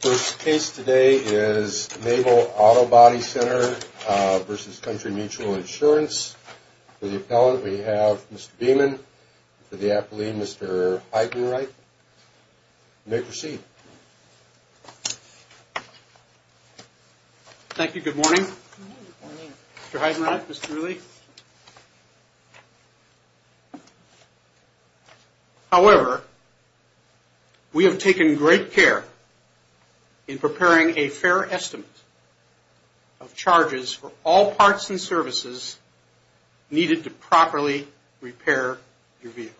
The first case today is Nabel Autobody Center v. Country Mutual Insurance. For the appellant, we have Mr. Beeman. For the appleant, Mr. Heidenreich. You may proceed. Thank you. Good morning. Good morning. Mr. Heidenreich, Mr. Lee. However, we have taken great care in preparing a fair estimate of charges for all parts and services needed to properly repair your vehicle.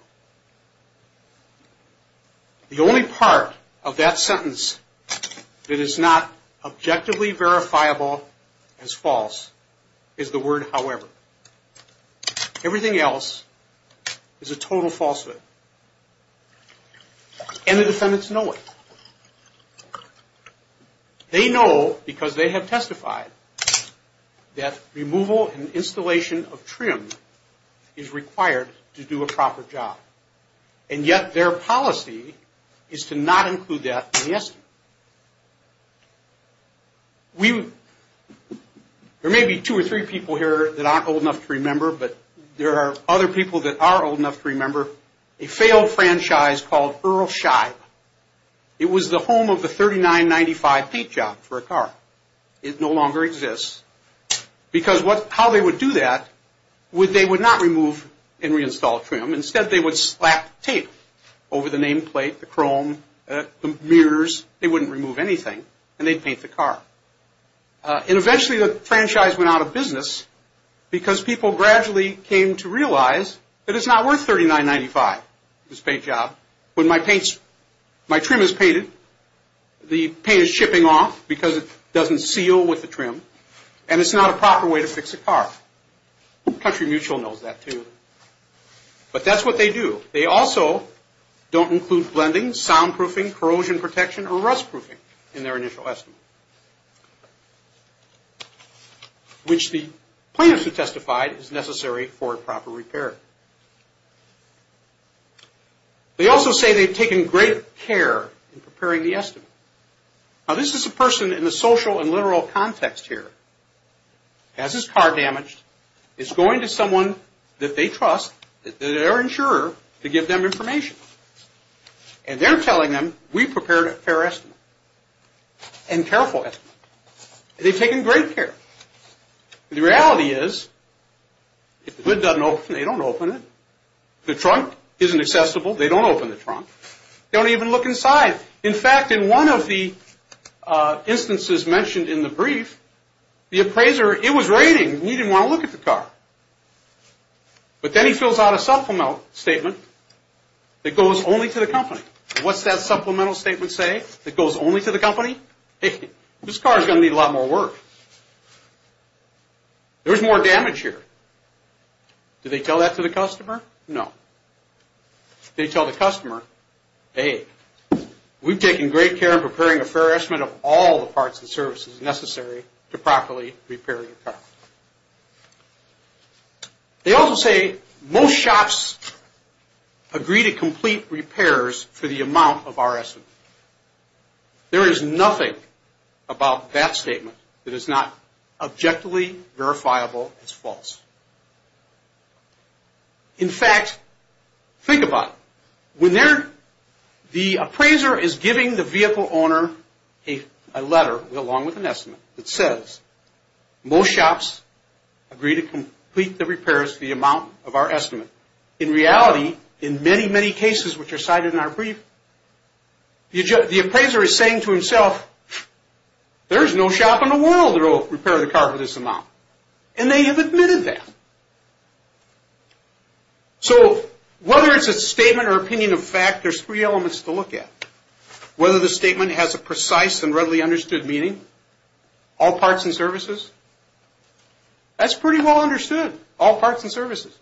The only part of that sentence that is not objectively verifiable as false is the word however. Everything else is a total falsehood. And the defendants know it. They know because they have testified that removal and installation of trim is required to do a proper job. And yet their policy is to not include that in the estimate. There may be two or three people here that aren't old enough to remember, but there are other people that are old enough to remember. A failed franchise called Earl Scheib. It was the home of the $39.95 paint job for a car. It no longer exists because how they would do that, they would not remove and reinstall trim. Instead, they would slap tape over the nameplate, the chrome, the mirrors. They wouldn't remove anything, and they'd paint the car. And eventually, the franchise went out of business because people gradually came to realize that it's not worth $39.95, this paint job. When my trim is painted, the paint is shipping off because it doesn't seal with the trim, and it's not a proper way to fix a car. Country Mutual knows that, too. But that's what they do. They also don't include blending, soundproofing, corrosion protection, or rustproofing in their initial estimate, which the plaintiffs have testified is necessary for a proper repair. They also say they've taken great care in preparing the estimate. Now, this is a person in the social and literal context here. Has his car damaged. Is going to someone that they trust, their insurer, to give them information. And they're telling them, we prepared a fair estimate. And careful estimate. They've taken great care. The reality is, if the hood doesn't open, they don't open it. The trunk isn't accessible. They don't open the trunk. They don't even look inside. In fact, in one of the instances mentioned in the brief, the appraiser, it was raining. He didn't want to look at the car. But then he fills out a supplemental statement that goes only to the company. What's that supplemental statement say? That goes only to the company? Hey, this car is going to need a lot more work. There's more damage here. Do they tell that to the customer? No. They tell the customer, hey, we've taken great care in preparing a fair estimate of all the parts and services necessary to properly repair your car. They also say, most shops agree to complete repairs for the amount of our estimate. There is nothing about that statement that is not objectively verifiable as false. In fact, think about it. The appraiser is giving the vehicle owner a letter along with an estimate that says, most shops agree to complete the repairs for the amount of our estimate. In reality, in many, many cases which are cited in our brief, the appraiser is saying to himself, there is no shop in the world that will repair the car for this amount. And they have admitted that. So whether it's a statement or opinion of fact, there's three elements to look at. Whether the statement has a precise and readily understood meaning, all parts and services, that's pretty well understood. All parts and services.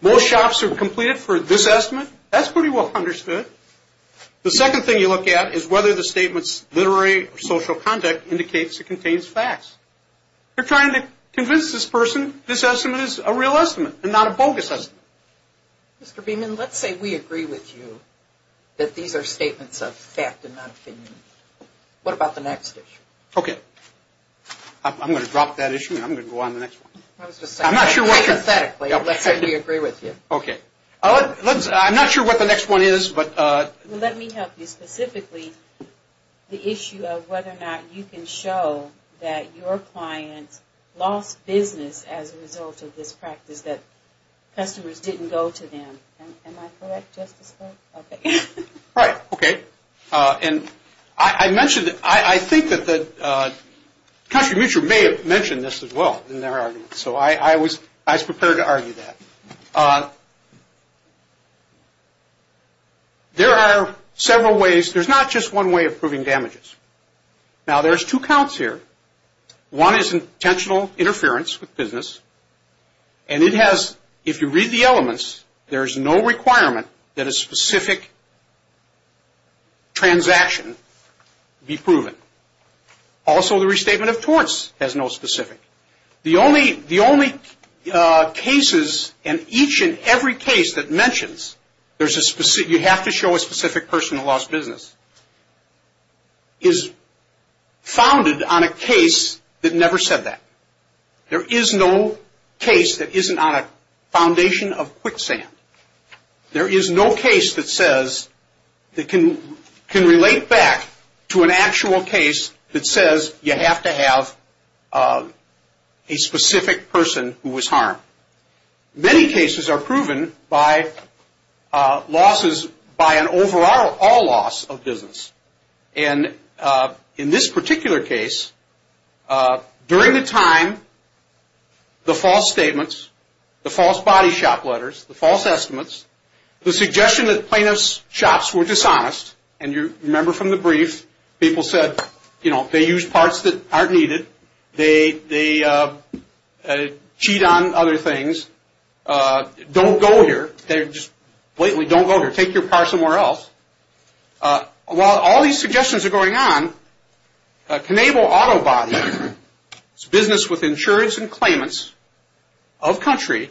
Most shops have completed for this estimate. That's pretty well understood. The second thing you look at is whether the statement's literary or social content indicates it contains facts. They're trying to convince this person this estimate is a real estimate and not a bogus estimate. Mr. Beeman, let's say we agree with you that these are statements of fact and not opinion. What about the next issue? Okay. I'm going to drop that issue and I'm going to go on to the next one. I'm not sure what you're... Hypothetically, let's say we agree with you. Okay. I'm not sure what the next one is, but... Well, let me help you. Specifically, the issue of whether or not you can show that your clients lost business as a result of this practice, that customers didn't go to them. Am I correct, Justice Clark? Okay. Right. Okay. And I mentioned, I think that Country Mutual may have mentioned this as well in their argument. So I was prepared to argue that. There are several ways. There's not just one way of proving damages. Now, there's two counts here. One is intentional interference with business, and it has, if you read the elements, there's no requirement that a specific transaction be proven. Also, the restatement of torts has no specific. The only cases, and each and every case that mentions you have to show a specific person who lost business, is founded on a case that never said that. There is no case that isn't on a foundation of quicksand. There is no case that says, that can relate back to an actual case that says you have to have a specific person who was harmed. Many cases are proven by losses, by an overall loss of business. And in this particular case, during the time, the false statements, the false body shop letters, the false estimates, the suggestion that plaintiff's shops were dishonest, and you remember from the brief, people said, you know, they use parts that aren't needed, they cheat on other things, don't go here, just blatantly don't go here. Take your car somewhere else. While all these suggestions are going on, Cannable Auto Body's business with insurance and claimants of country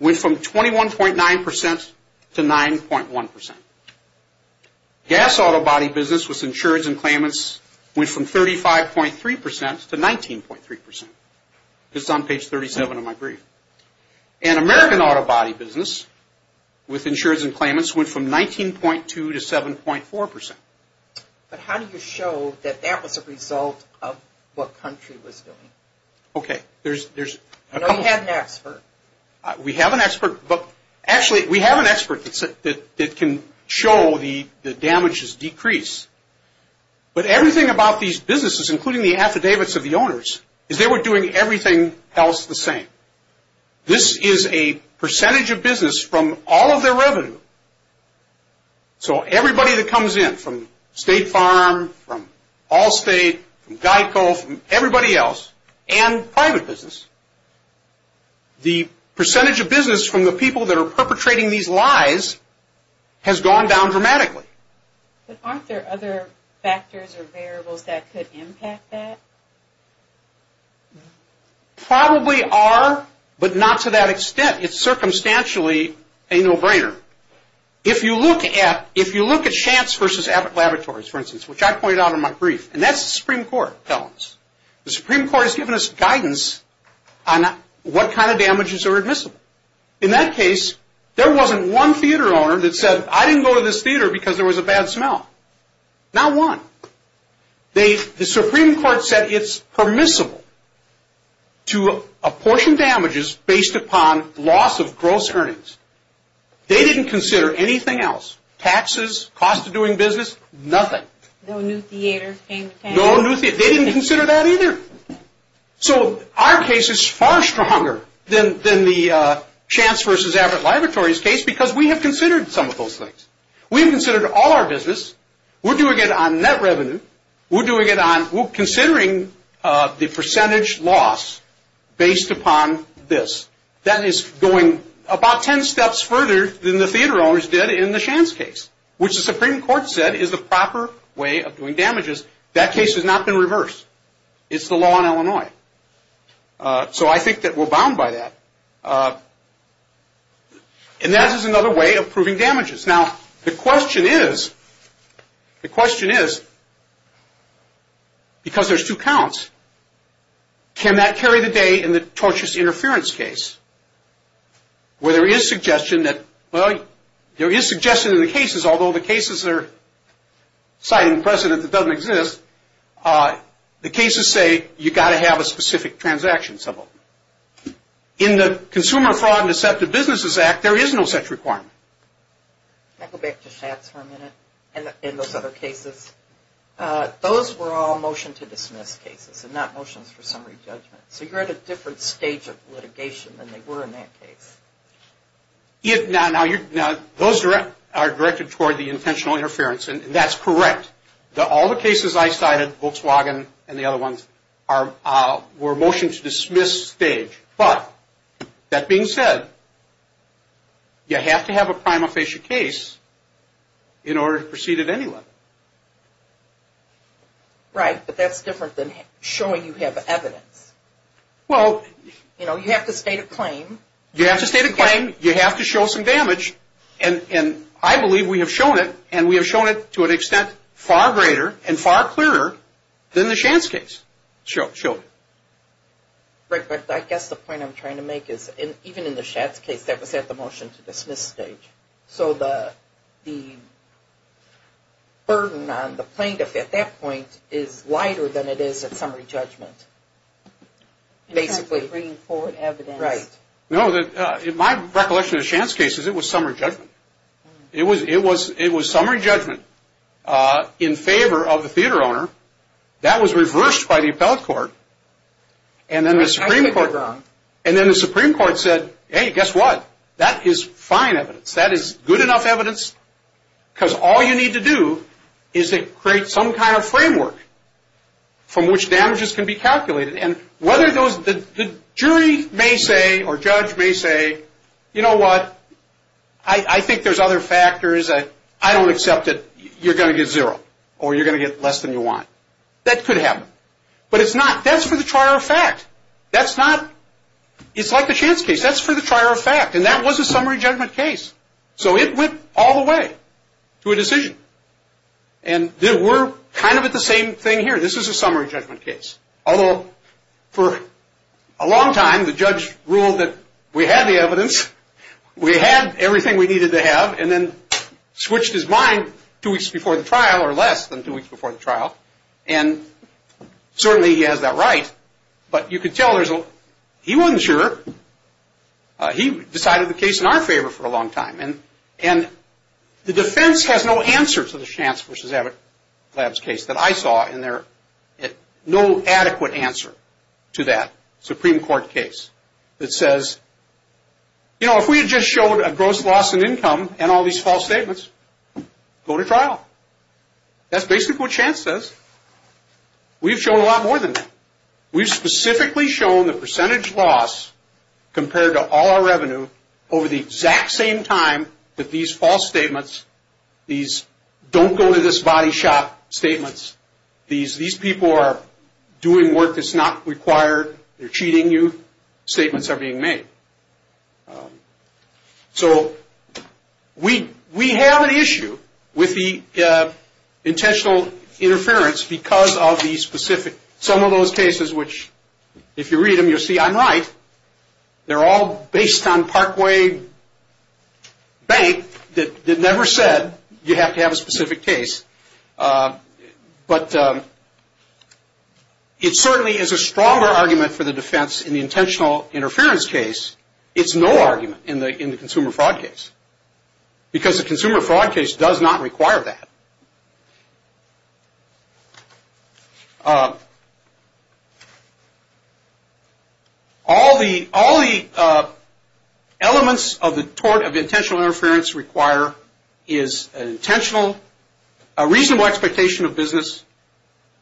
went from 21.9% to 9.1%. Gas Auto Body business with insurance and claimants went from 35.3% to 19.3%, just on page 37 of my brief. And American Auto Body business with insurance and claimants went from 19.2% to 7.4%. But how do you show that that was a result of what country was doing? Okay, there's a couple. You know, you have an expert. We have an expert, but actually, we have an expert that can show the damages decrease. But everything about these businesses, including the affidavits of the owners, is they were doing everything else the same. This is a percentage of business from all of their revenue. So everybody that comes in from State Farm, from Allstate, from GEICO, from everybody else, and private business, the percentage of business from the people that are perpetrating these lies has gone down dramatically. But aren't there other factors or variables that could impact that? Probably are, but not to that extent. It's circumstantially a no-brainer. If you look at Shantz versus Abbott Laboratories, for instance, which I pointed out in my brief, and that's the Supreme Court telling us. The Supreme Court has given us guidance on what kind of damages are admissible. In that case, there wasn't one theater owner that said, I didn't go to this theater because there was a bad smell. Not one. The Supreme Court said it's permissible to apportion damages based upon loss of gross earnings. They didn't consider anything else. Taxes, cost of doing business, nothing. No new theaters came to town. No new theaters. They didn't consider that either. So our case is far stronger than the Shantz versus Abbott Laboratories case because we have considered some of those things. We've considered all our business. We're doing it on net revenue. We're considering the percentage loss based upon this. That is going about ten steps further than the theater owners did in the Shantz case, which the Supreme Court said is the proper way of doing damages. That case has not been reversed. It's the law in Illinois. So I think that we're bound by that. And that is another way of proving damages. Now, the question is, the question is, because there's two counts, can that carry the day in the tortious interference case, where there is suggestion that, well, there is suggestion in the cases, although the cases are citing precedent that doesn't exist, the cases say you've got to have a specific transaction symbol. In the Consumer Fraud and Deceptive Businesses Act, there is no such requirement. Can I go back to Shantz for a minute and those other cases? Those were all motion to dismiss cases and not motions for summary judgment. So you're at a different stage of litigation than they were in that case. Now, those are directed toward the intentional interference, and that's correct. All the cases I cited, Volkswagen and the other ones, were motion to dismiss stage. But that being said, you have to have a prima facie case in order to proceed at any level. Right, but that's different than showing you have evidence. Well, you know, you have to state a claim. You have to state a claim. You have to show some damage. And I believe we have shown it, and we have shown it to an extent far greater and far clearer than the Shantz case showed. Right, but I guess the point I'm trying to make is, even in the Shantz case, that was at the motion to dismiss stage. So the burden on the plaintiff at that point is lighter than it is at summary judgment, basically. In terms of bringing forward evidence. Right. No, my recollection of the Shantz case is it was summary judgment. It was summary judgment in favor of the theater owner. That was reversed by the appellate court. And then the Supreme Court said, hey, guess what? That is fine evidence. That is good enough evidence because all you need to do is to create some kind of framework from which damages can be calculated. And whether those – the jury may say or judge may say, you know what, I think there's other factors. I don't accept it. You're going to get zero or you're going to get less than you want. That could happen. But it's not. That's for the trier of fact. That's not – it's like the Shantz case. That's for the trier of fact. And that was a summary judgment case. So it went all the way to a decision. And we're kind of at the same thing here. This is a summary judgment case. Although for a long time the judge ruled that we had the evidence, we had everything we needed to have, and then switched his mind two weeks before the trial or less than two weeks before the trial. And certainly he has that right. But you can tell there's a – he wasn't sure. He decided the case in our favor for a long time. And the defense has no answer to the Shantz v. Lab's case that I saw in there. No adequate answer to that Supreme Court case that says, you know, if we had just showed a gross loss in income and all these false statements, go to trial. That's basically what Shantz says. We've shown a lot more than that. We've specifically shown the percentage loss compared to all our revenue over the exact same time that these false statements, these don't go to this body shop statements, these people are doing work that's not required, they're cheating you, statements are being made. So we have an issue with the intentional interference because of the specific – which if you read them, you'll see I'm right. They're all based on Parkway Bank that never said you have to have a specific case. But it certainly is a stronger argument for the defense in the intentional interference case. It's no argument in the consumer fraud case because the consumer fraud case does not require that. All the elements of the tort of intentional interference require is an intentional, a reasonable expectation of business,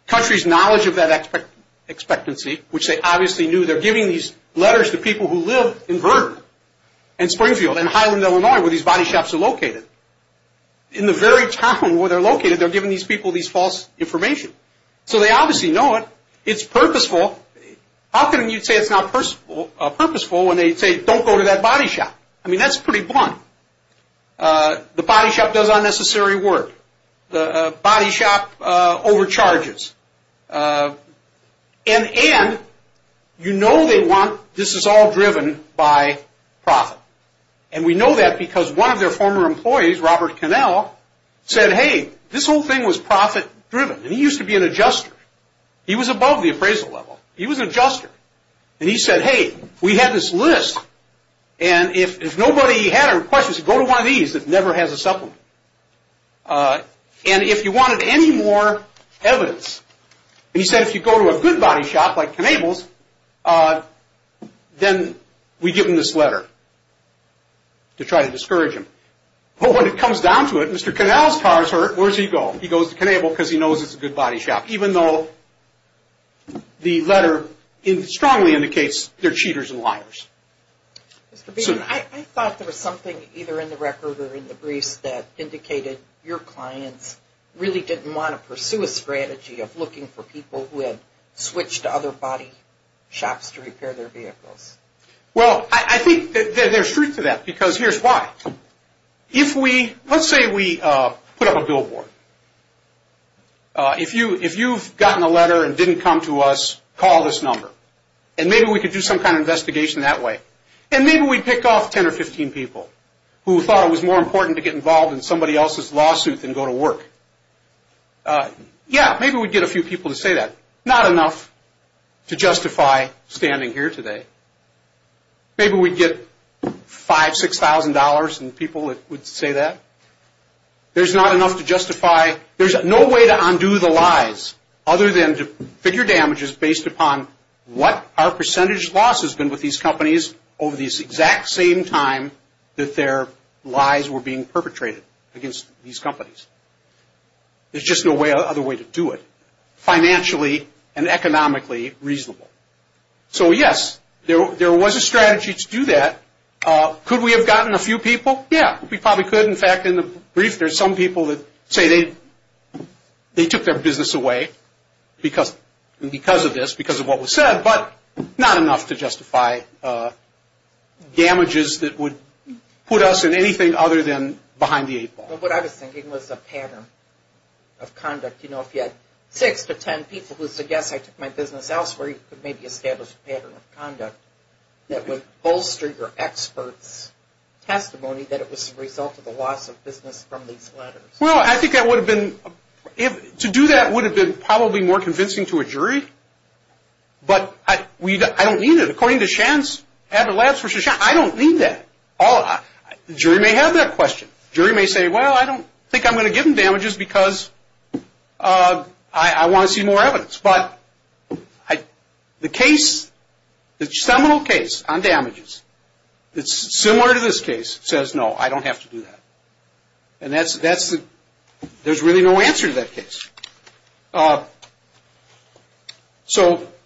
country's knowledge of that expectancy, which they obviously knew. They're giving these letters to people who live in Vernon and Springfield and Highland, Illinois, where these body shops are located. In the very town where they're located, they're giving these people these false information. So they obviously know it. It's purposeful. How can you say it's not purposeful when they say don't go to that body shop? I mean, that's pretty blunt. The body shop does unnecessary work. The body shop overcharges. And you know they want this is all driven by profit. And we know that because one of their former employees, Robert Cannell, said, hey, this whole thing was profit driven. And he used to be an adjuster. He was above the appraisal level. He was an adjuster. And he said, hey, we had this list, and if nobody had a request, he said, go to one of these that never has a supplement. And if you wanted any more evidence, and he said if you go to a good body shop like Cannable's, then we give him this letter to try to discourage him. But when it comes down to it, Mr. Cannell's car is hurt. Where does he go? He goes to Cannable because he knows it's a good body shop, even though the letter strongly indicates they're cheaters and liars. I thought there was something either in the record or in the briefs that indicated your clients really didn't want to pursue a strategy of looking for people who had switched to other body shops to repair their vehicles. Well, I think there's truth to that because here's why. Let's say we put up a billboard. If you've gotten a letter and didn't come to us, call this number. And maybe we could do some kind of investigation that way. And maybe we'd pick off 10 or 15 people who thought it was more important to get involved in somebody else's lawsuit than go to work. Yeah, maybe we'd get a few people to say that. Not enough to justify standing here today. Maybe we'd get $5,000, $6,000 in people that would say that. There's not enough to justify. There's no way to undo the lies other than to figure damages based upon what our percentage loss has been with these companies over this exact same time that their lies were being perpetrated against these companies. There's just no other way to do it financially and economically reasonable. So, yes, there was a strategy to do that. Could we have gotten a few people? Yeah, we probably could. In fact, in the brief, there's some people that say they took their business away because of this, because of what was said, but not enough to justify damages that would put us in anything other than behind the eight ball. Well, what I was thinking was a pattern of conduct. You know, if you had 6 to 10 people who said, yes, I took my business elsewhere, you could maybe establish a pattern of conduct that would bolster your expert's testimony that it was the result of the loss of business from these letters. Well, I think that would have been – to do that would have been probably more convincing to a jury, but I don't need it. According to Shan's – I don't need that. The jury may have that question. The jury may say, well, I don't think I'm going to give them damages because I want to see more evidence. But the case – the seminal case on damages that's similar to this case says, no, I don't have to do that. And that's – there's really no answer to that case. So –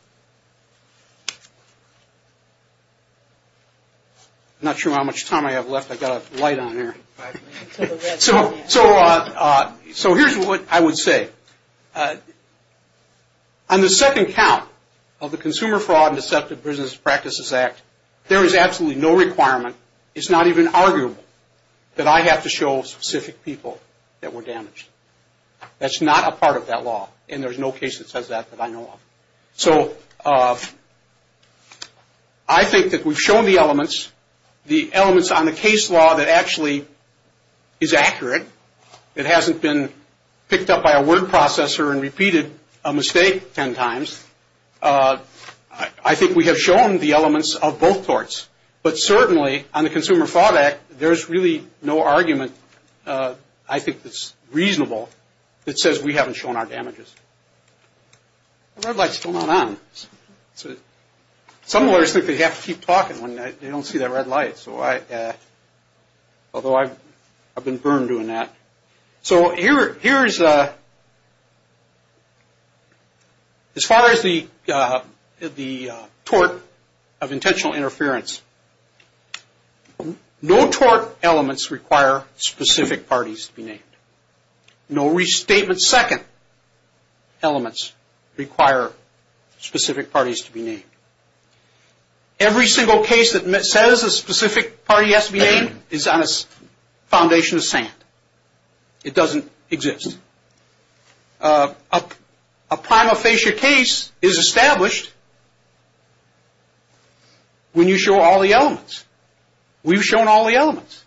I'm not sure how much time I have left. I've got a light on here. So here's what I would say. On the second count of the Consumer Fraud and Deceptive Business Practices Act, there is absolutely no requirement, it's not even arguable, that I have to show specific people that were damaged. That's not a part of that law, and there's no case that says that that I know of. So I think that we've shown the elements, the elements on the case law that actually is accurate, that hasn't been picked up by a word processor and repeated a mistake ten times. I think we have shown the elements of both courts. But certainly on the Consumer Fraud Act, there's really no argument I think that's reasonable that says we haven't shown our damages. The red light's still not on. Some lawyers think they have to keep talking when they don't see that red light. So I – although I've been burned doing that. So here's – as far as the tort of intentional interference, no restatement second elements require specific parties to be named. Every single case that says a specific party has to be named is on a foundation of sand. It doesn't exist. A prima facie case is established when you show all the elements. We've shown all the elements.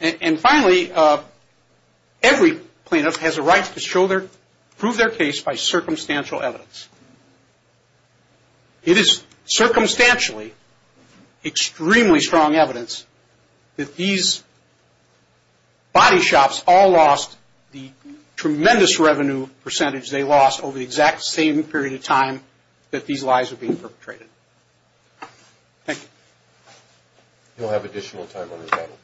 And finally, every plaintiff has a right to prove their case by circumstantial evidence. It is circumstantially extremely strong evidence that these body shops all lost the tremendous revenue percentage they lost over the exact same period of time that these lies were being perpetrated. Thank you. You'll have additional time on the panel.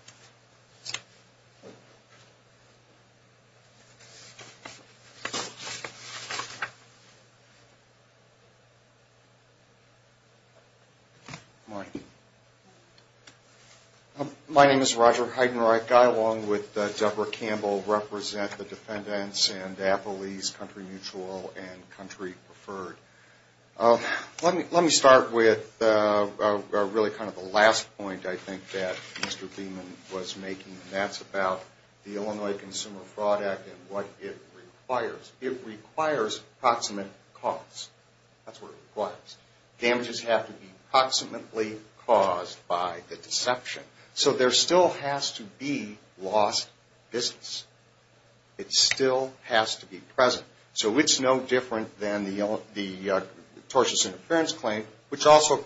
Good morning. My name is Roger Heidenreich. I, along with Deborah Campbell, represent the defendants in DAPLEI's Country Mutual and Country Preferred. Let me start with really kind of the last point I think that Mr. Beeman was making, and that's about the Illinois Consumer Fraud Act and what it requires. It requires proximate cause. That's what it requires. Damages have to be proximately caused by the deception. So there still has to be lost business. It still has to be present. So it's no different than the tortious interference claim, which also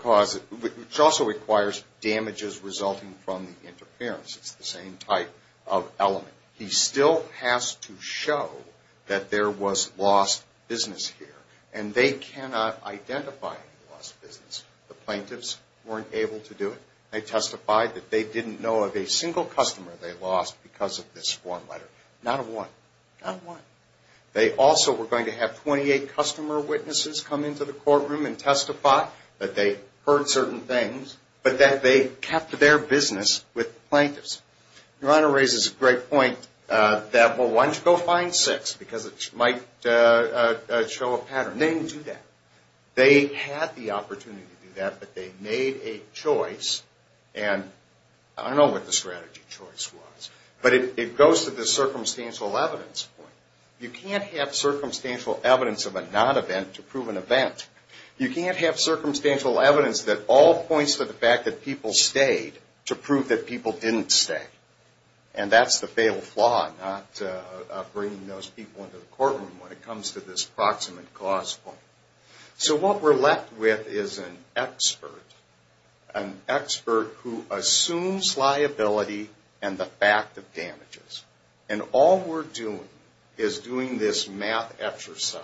requires damages resulting from the interference. It's the same type of element. He still has to show that there was lost business here, and they cannot identify lost business. The plaintiffs weren't able to do it. They testified that they didn't know of a single customer they lost because of this form letter. Not a one. Not a one. They also were going to have 28 customer witnesses come into the courtroom and testify that they heard certain things, but that they kept their business with the plaintiffs. Your Honor raises a great point that, well, why don't you go find six because it might show a pattern. They didn't do that. They had the opportunity to do that, but they made a choice, and I don't know what the strategy choice was, but it goes to the circumstantial evidence point. You can't have circumstantial evidence of a non-event to prove an event. You can't have circumstantial evidence that all points to the fact that people stayed to prove that people didn't stay, and that's the fatal flaw, not bringing those people into the courtroom when it comes to this proximate cause point. So what we're left with is an expert, an expert who assumes liability and the fact of damages, and all we're doing is doing this math exercise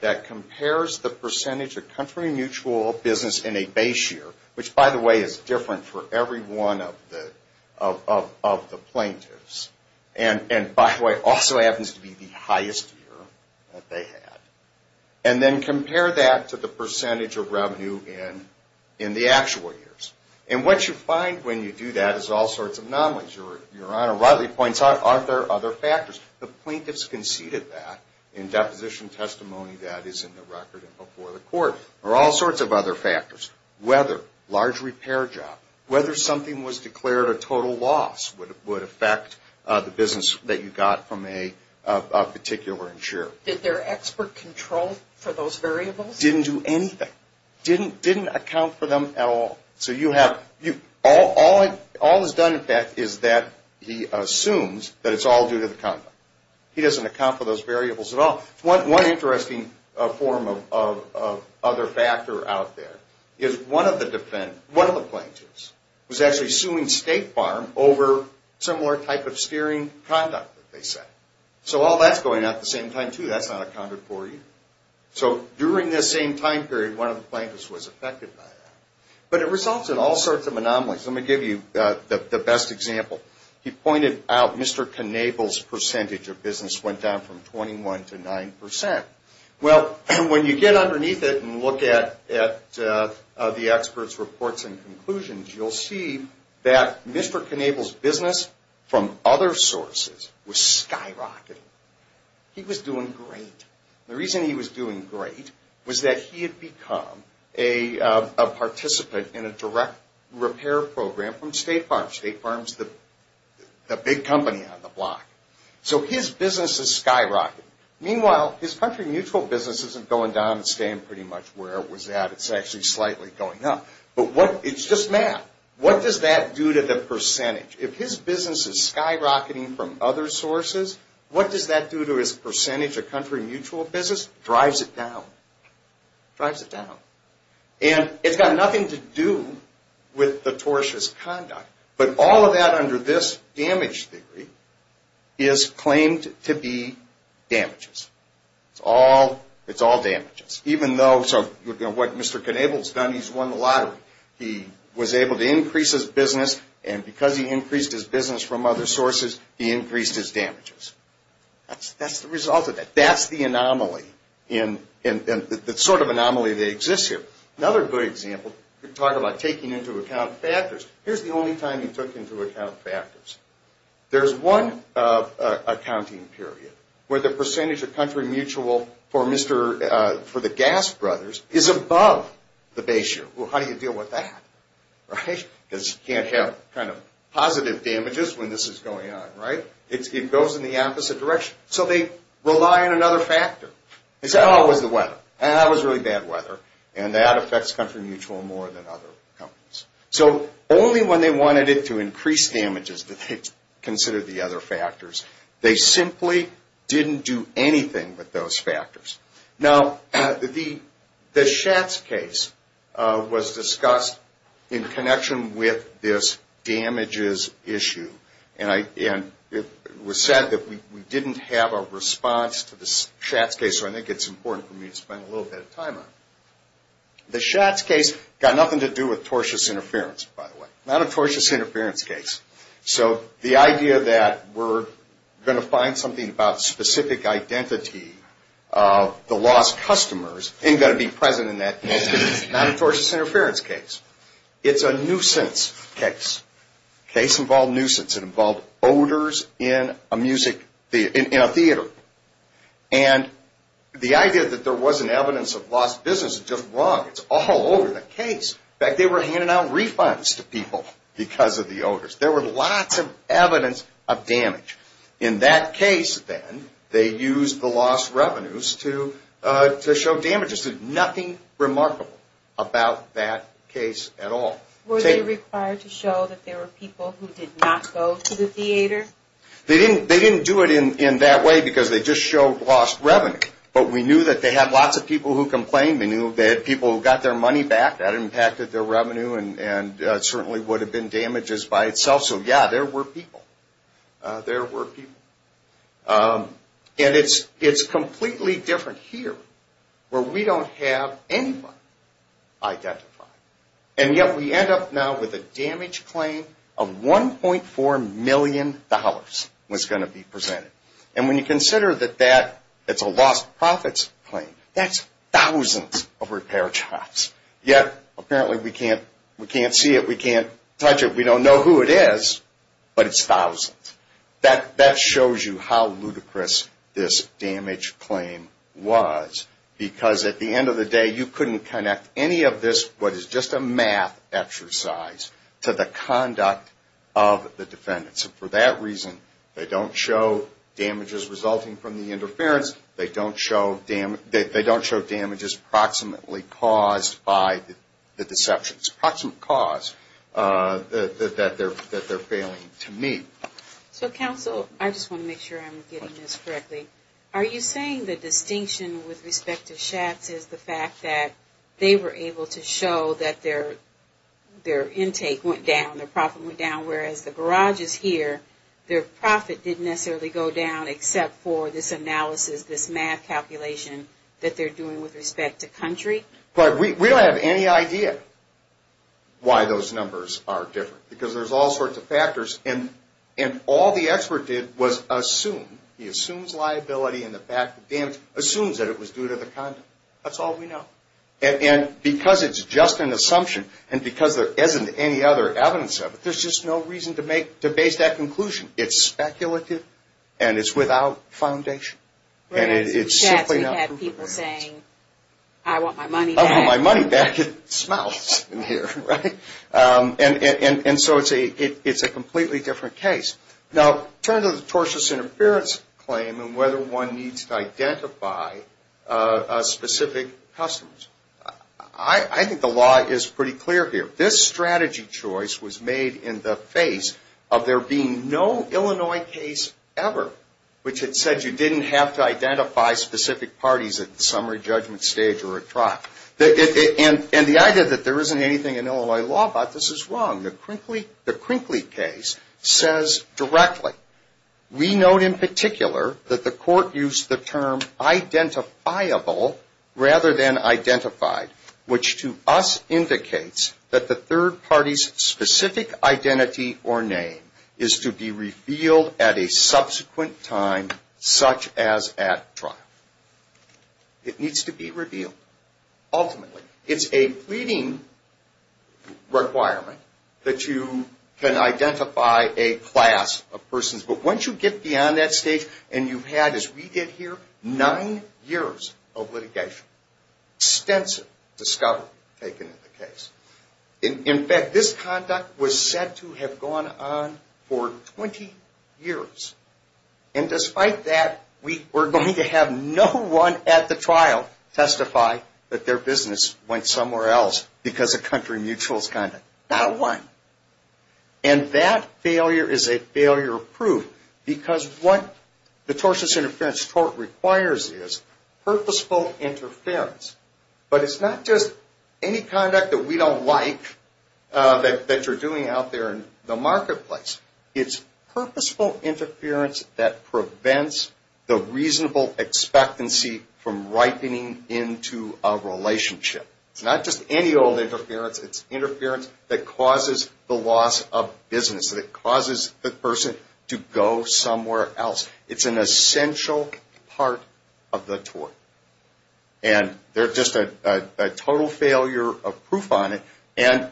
that compares the percentage of country mutual business in a base year, which, by the way, is different for every one of the plaintiffs, and, by the way, also happens to be the highest year that they had, and then compare that to the percentage of revenue in the actual years. And what you find when you do that is all sorts of anomalies. Your Honor rightly points out, are there other factors? The plaintiffs conceded that in deposition testimony that is in the record and before the court. There are all sorts of other factors. Whether large repair job, whether something was declared a total loss would affect the business that you got from a particular insurer. Did their expert control for those variables? Didn't do anything. Didn't account for them at all. So all that's done, in fact, is that he assumes that it's all due to the conduct. He doesn't account for those variables at all. One interesting form of other factor out there is one of the plaintiffs was actually suing State Farm over similar type of steering conduct, they said. So all that's going out at the same time, too. That's not accounted for either. So during this same time period, one of the plaintiffs was affected by that. But it results in all sorts of anomalies. Let me give you the best example. He pointed out Mr. Knabel's percentage of business went down from 21 to 9%. Well, when you get underneath it and look at the experts' reports and conclusions, you'll see that Mr. Knabel's business from other sources was skyrocketing. He was doing great. The reason he was doing great was that he had become a participant in a direct repair program from State Farm. State Farm's the big company on the block. So his business is skyrocketing. Meanwhile, his country mutual business isn't going down. It's staying pretty much where it was at. It's actually slightly going up. But it's just math. What does that do to the percentage? If his business is skyrocketing from other sources, what does that do to his percentage of country mutual business? Drives it down. Drives it down. And it's got nothing to do with the tortious conduct. But all of that under this damage theory is claimed to be damages. It's all damages. So what Mr. Knabel's done, he's won the lottery. He was able to increase his business, and because he increased his business from other sources, he increased his damages. That's the result of that. That's the anomaly, the sort of anomaly that exists here. Another good example, you talk about taking into account factors. Here's the only time he took into account factors. There's one accounting period where the percentage of country mutual for the Gas Brothers is above the base year. Well, how do you deal with that? Because you can't have kind of positive damages when this is going on. It goes in the opposite direction. So they rely on another factor. It's always the weather. And that was really bad weather. And that affects country mutual more than other companies. So only when they wanted it to increase damages did they consider the other factors. They simply didn't do anything with those factors. Now, the Schatz case was discussed in connection with this damages issue. And it was said that we didn't have a response to the Schatz case, so I think it's important for me to spend a little bit of time on it. The Schatz case got nothing to do with tortious interference, by the way. Not a tortious interference case. So the idea that we're going to find something about specific identity of the lost customers isn't going to be present in that case. It's not a tortious interference case. It's a nuisance case. The case involved nuisance. It involved odors in a theater. And the idea that there wasn't evidence of lost business is just wrong. It's all over the case. In fact, they were handing out refunds to people because of the odors. There were lots of evidence of damage. In that case, then, they used the lost revenues to show damages. There's nothing remarkable about that case at all. Were they required to show that there were people who did not go to the theater? They didn't do it in that way because they just showed lost revenue. But we knew that they had lots of people who complained. They knew they had people who got their money back. That impacted their revenue and certainly would have been damages by itself. So, yeah, there were people. There were people. And it's completely different here where we don't have anybody identified. And yet we end up now with a damage claim of $1.4 million was going to be presented. And when you consider that that's a lost profits claim, that's thousands of repair jobs. Yet, apparently, we can't see it. We can't touch it. We don't know who it is, but it's thousands. That shows you how ludicrous this damage claim was because, at the end of the day, you couldn't connect any of this, what is just a math exercise, to the conduct of the defendants. And for that reason, they don't show damages resulting from the interference. They don't show damages approximately caused by the deceptions. Approximate cause that they're failing to meet. So, counsel, I just want to make sure I'm getting this correctly. Are you saying the distinction with respect to Schatz is the fact that they were able to show that their intake went down, their profit went down, whereas the garages here, their profit didn't necessarily go down except for this analysis, this math calculation that they're doing with respect to country? But we don't have any idea why those numbers are different because there's all sorts of factors. And all the expert did was assume. He assumes liability and the fact of damage, assumes that it was due to the conduct. That's all we know. And because it's just an assumption and because there isn't any other evidence of it, there's just no reason to base that conclusion. It's speculative and it's without foundation. And it's simply not proven. Schatz, we've had people saying, I want my money back. I want my money back. It smells in here, right? And so it's a completely different case. Now, turn to the tortious interference claim and whether one needs to identify specific customers. I think the law is pretty clear here. This strategy choice was made in the face of there being no Illinois case ever, which had said you didn't have to identify specific parties at the summary judgment stage or a trial. And the idea that there isn't anything in Illinois law about this is wrong. The Krinkley case says directly, we note in particular that the court used the term identifiable rather than identified, which to us indicates that the third party's specific identity or name is to be revealed at a subsequent time such as at trial. It needs to be revealed. Ultimately, it's a pleading requirement that you can identify a class of persons. But once you get beyond that stage and you've had, as we did here, nine years of litigation, extensive discovery taken in the case. In fact, this conduct was said to have gone on for 20 years. And despite that, we're going to have no one at the trial testify that their business went somewhere else because of country mutuals conduct. Not one. And that failure is a failure of proof because what the tortious interference tort requires is purposeful interference. But it's not just any conduct that we don't like that you're doing out there in the marketplace. It's purposeful interference that prevents the reasonable expectancy from ripening into a relationship. It's not just any old interference. It's interference that causes the loss of business, that causes the person to go somewhere else. It's an essential part of the tort. And they're just a total failure of proof on it. And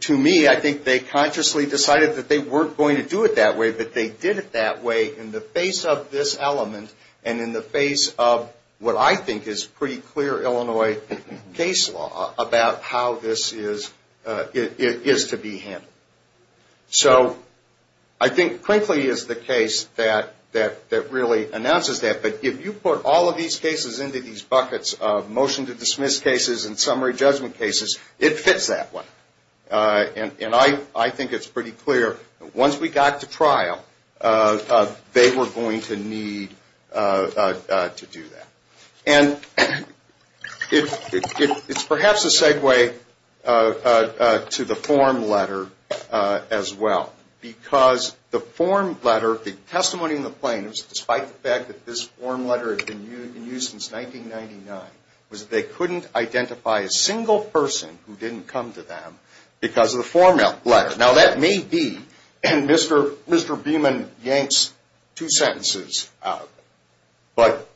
to me, I think they consciously decided that they weren't going to do it that way, but they did it that way in the face of this element and in the face of what I think is pretty clear Illinois case law about how this is to be handled. So I think, frankly, is the case that really announces that. But if you put all of these cases into these buckets of motion to dismiss cases and summary judgment cases, it fits that one. And I think it's pretty clear that once we got to trial, they were going to need to do that. And it's perhaps a segue to the form letter as well. Because the form letter, the testimony in the plaintiffs, despite the fact that this form letter had been used since 1999, was that they couldn't identify a single person who didn't come to them because of the form letter. Now, that may be Mr. Beeman yanks two sentences out. But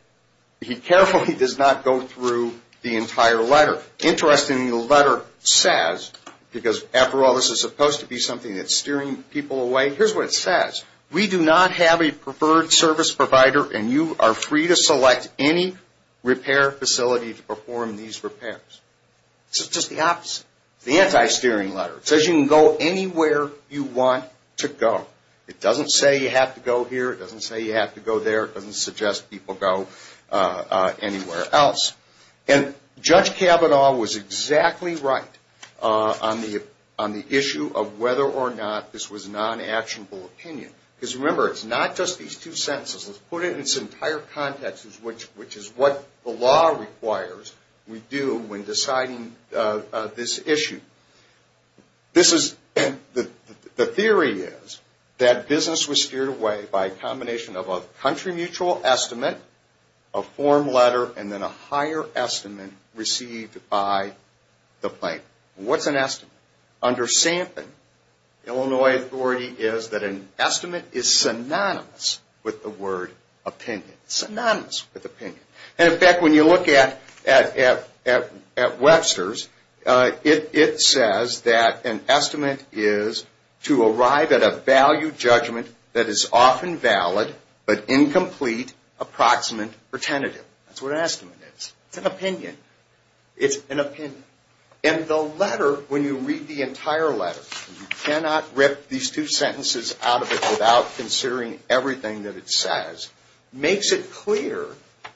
he carefully does not go through the entire letter. And what the interest in the letter says, because after all, this is supposed to be something that's steering people away, here's what it says. We do not have a preferred service provider, and you are free to select any repair facility to perform these repairs. It's just the opposite. It's the anti-steering letter. It says you can go anywhere you want to go. It doesn't say you have to go here. It doesn't say you have to go there. It doesn't suggest people go anywhere else. And Judge Kavanaugh was exactly right on the issue of whether or not this was non-actionable opinion. Because remember, it's not just these two sentences. Let's put it in its entire context, which is what the law requires we do when deciding this issue. The theory is that business was steered away by a combination of a country mutual estimate, a form letter, and then a higher estimate received by the plaintiff. What's an estimate? Under Sampson, Illinois authority is that an estimate is synonymous with the word opinion. Synonymous with opinion. And in fact, when you look at Webster's, it says that an estimate is to arrive at a value judgment that is often valid, but incomplete, approximate, or tentative. That's what an estimate is. It's an opinion. It's an opinion. And the letter, when you read the entire letter, you cannot rip these two sentences out of it without considering everything that it says, makes it clear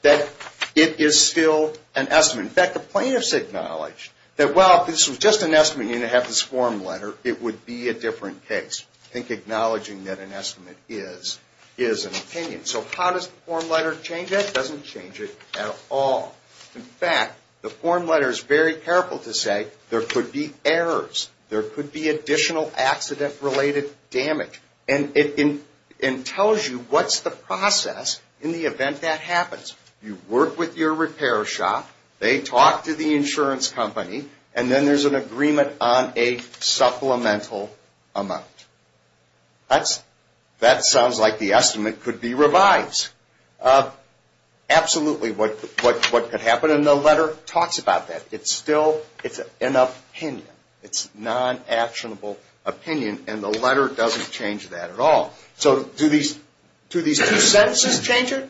that it is still an estimate. In fact, the plaintiffs acknowledged that, well, if this was just an estimate and you didn't have this form letter, it would be a different case. I think acknowledging that an estimate is an opinion. So how does the form letter change it? It doesn't change it at all. In fact, the form letter is very careful to say there could be errors. There could be additional accident-related damage. And it tells you what's the process in the event that happens. You work with your repair shop. They talk to the insurance company. And then there's an agreement on a supplemental amount. That sounds like the estimate could be revised. Absolutely what could happen. And the letter talks about that. It's still an opinion. It's non-actionable opinion. And the letter doesn't change that at all. So do these two sentences change it?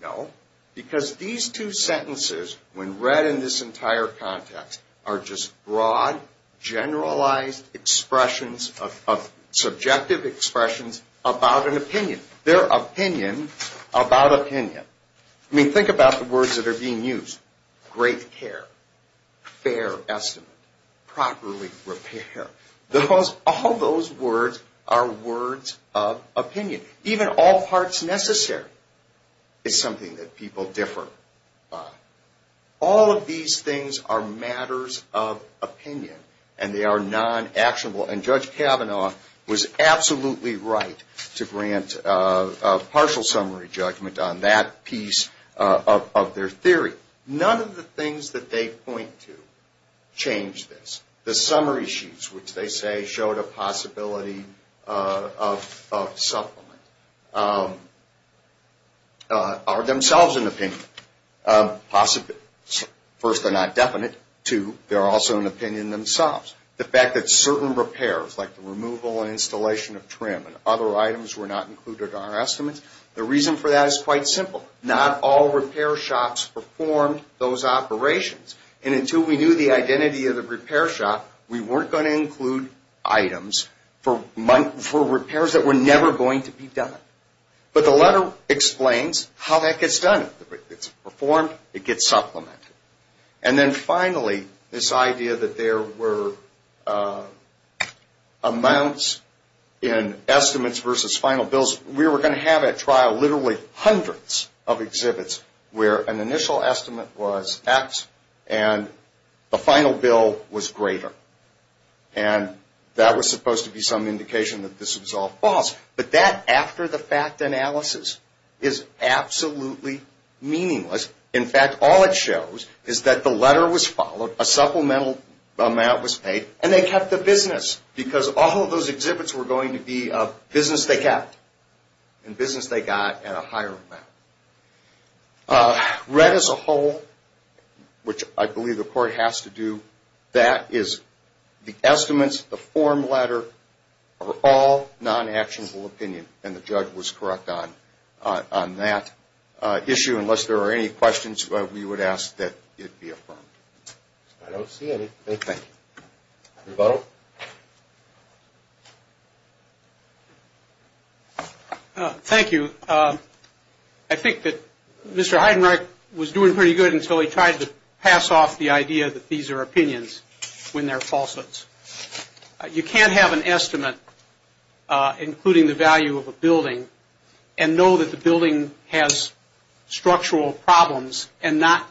No, because these two sentences, when read in this entire context, are just broad, generalized expressions of subjective expressions about an opinion. They're opinion about opinion. I mean, think about the words that are being used. Great care. Fair estimate. Properly repair. All those words are words of opinion. Even all parts necessary is something that people differ on. All of these things are matters of opinion. And they are non-actionable. And Judge Kavanaugh was absolutely right to grant a partial summary judgment on that piece of their theory. None of the things that they point to change this. The summary sheets, which they say showed a possibility of supplement, are themselves an opinion. First, they're not definite. Two, they're also an opinion themselves. The fact that certain repairs, like the removal and installation of trim and other items were not included in our estimates, the reason for that is quite simple. Not all repair shops performed those operations. And until we knew the identity of the repair shop, we weren't going to include items for repairs that were never going to be done. But the letter explains how that gets done. It's performed. It gets supplemented. And then finally, this idea that there were amounts in estimates versus final bills, we were going to have at trial literally hundreds of exhibits where an initial estimate was X and the final bill was greater. And that was supposed to be some indication that this was all false. But that, after the fact analysis, is absolutely meaningless. In fact, all it shows is that the letter was followed, a supplemental amount was paid, and they kept the business because all of those exhibits were going to be business they kept and business they got at a higher amount. Red as a whole, which I believe the court has to do, that is the estimates, the form letter, are all non-actionable opinion, and the judge was correct on that issue. Unless there are any questions, we would ask that it be affirmed. I don't see anything. Thank you. I think that Mr. Heidenreich was doing pretty good until he tried to pass off the idea that these are opinions when they're falsehoods. You can't have an estimate including the value of a building and know that the building has structural problems and not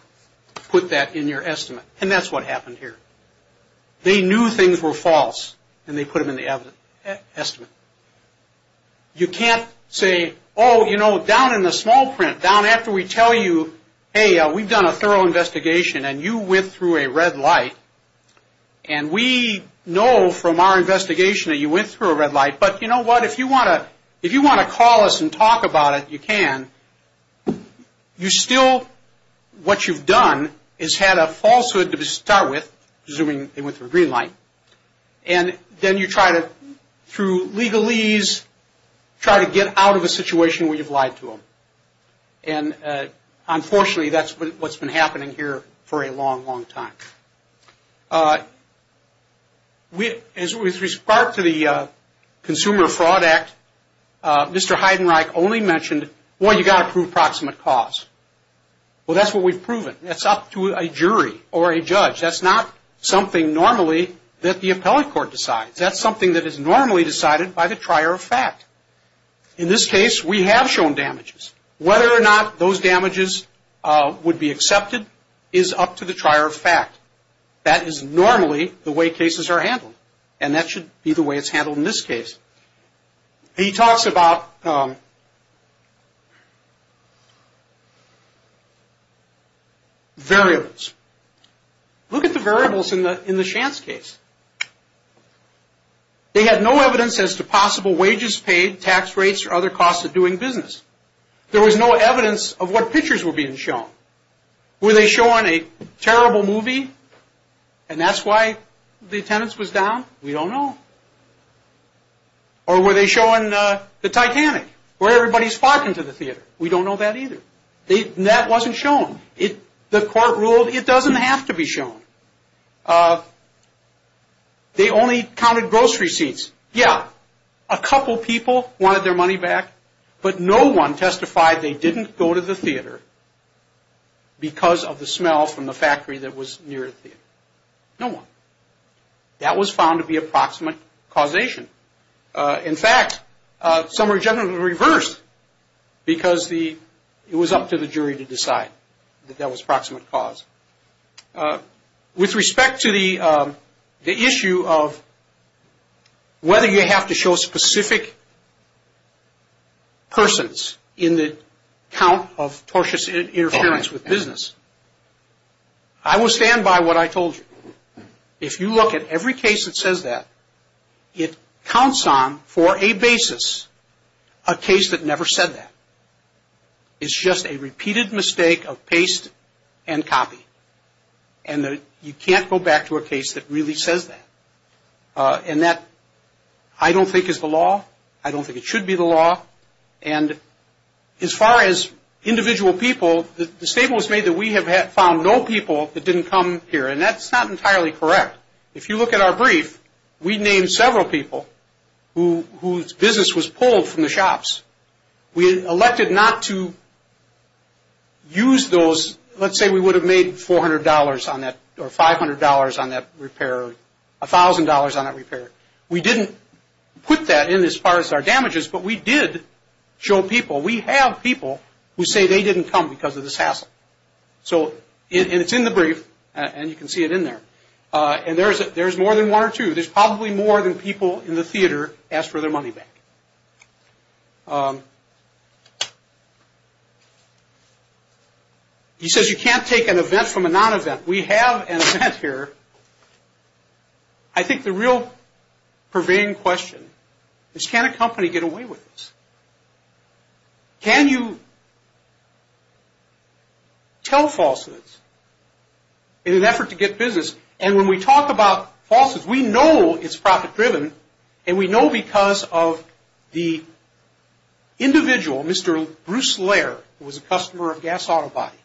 put that in your estimate. And that's what happened here. They knew things were false, and they put them in the estimate. You can't say, oh, you know, down in the small print, down after we tell you, hey, we've done a thorough investigation and you went through a red light, and we know from our investigation that you went through a red light, but you know what, if you want to call us and talk about it, you can. You still, what you've done is had a falsehood to start with, assuming they went through a green light, and then you try to, through legalese, try to get out of a situation where you've lied to them. And unfortunately, that's what's been happening here for a long, long time. As with respect to the Consumer Fraud Act, Mr. Heidenreich only mentioned, well, you've got to prove proximate cause. Well, that's what we've proven. That's up to a jury or a judge. That's not something normally that the appellate court decides. That's something that is normally decided by the trier of fact. In this case, we have shown damages. Whether or not those damages would be accepted is up to the trier of fact. That is normally the way cases are handled, and that should be the way it's handled in this case. He talks about variables. Look at the variables in the Shantz case. They had no evidence as to possible wages paid, tax rates, or other costs of doing business. There was no evidence of what pictures were being shown. Were they showing a terrible movie, and that's why the attendance was down? We don't know. Or were they showing the Titanic, where everybody's flocking to the theater? We don't know that either. That wasn't shown. The court ruled it doesn't have to be shown. They only counted grocery seats. Yeah, a couple people wanted their money back, but no one testified they didn't go to the theater because of the smell from the factory that was near the theater. No one. That was found to be approximate causation. In fact, some were generally reversed because it was up to the jury to decide that that was approximate cause. With respect to the issue of whether you have to show specific persons in the count of tortious interference with business, I will stand by what I told you. If you look at every case that says that, it counts on for a basis a case that never said that. It's just a repeated mistake of paste and copy, and you can't go back to a case that really says that. And that I don't think is the law. I don't think it should be the law. And as far as individual people, the statement was made that we have found no people that didn't come here, and that's not entirely correct. If you look at our brief, we named several people whose business was pulled from the shops. We elected not to use those. Let's say we would have made $400 on that or $500 on that repair or $1,000 on that repair. We didn't put that in as far as our damages, but we did show people. We have people who say they didn't come because of this hassle. And it's in the brief, and you can see it in there. And there's more than one or two. There's probably more than people in the theater ask for their money back. He says you can't take an event from a non-event. We have an event here. I think the real purveying question is can a company get away with this? Can you tell falsehoods in an effort to get business? And when we talk about falsehoods, we know it's profit-driven, and we know because of the individual, Mr. Bruce Lair, who was a customer of Gas Auto Body.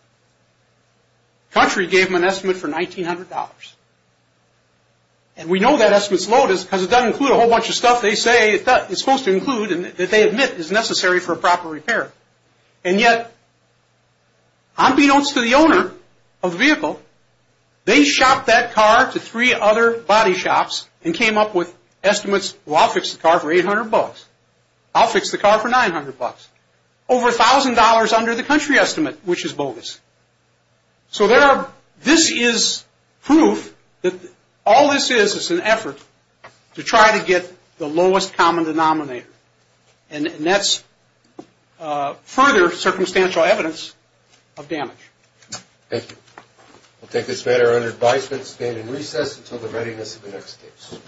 The country gave him an estimate for $1,900. And we know that estimate's low because it doesn't include a whole bunch of stuff they say it's supposed to include and that they admit is necessary for a proper repair. And yet, unbeknownst to the owner of the vehicle, they shopped that car to three other body shops and came up with estimates, well, I'll fix the car for $800. I'll fix the car for $900. Over $1,000 under the country estimate, which is bogus. So this is proof that all this is is an effort to try to get the lowest common denominator, and that's further circumstantial evidence of damage. Thank you. We'll take this matter under advisement, stand in recess until the readiness of the next case.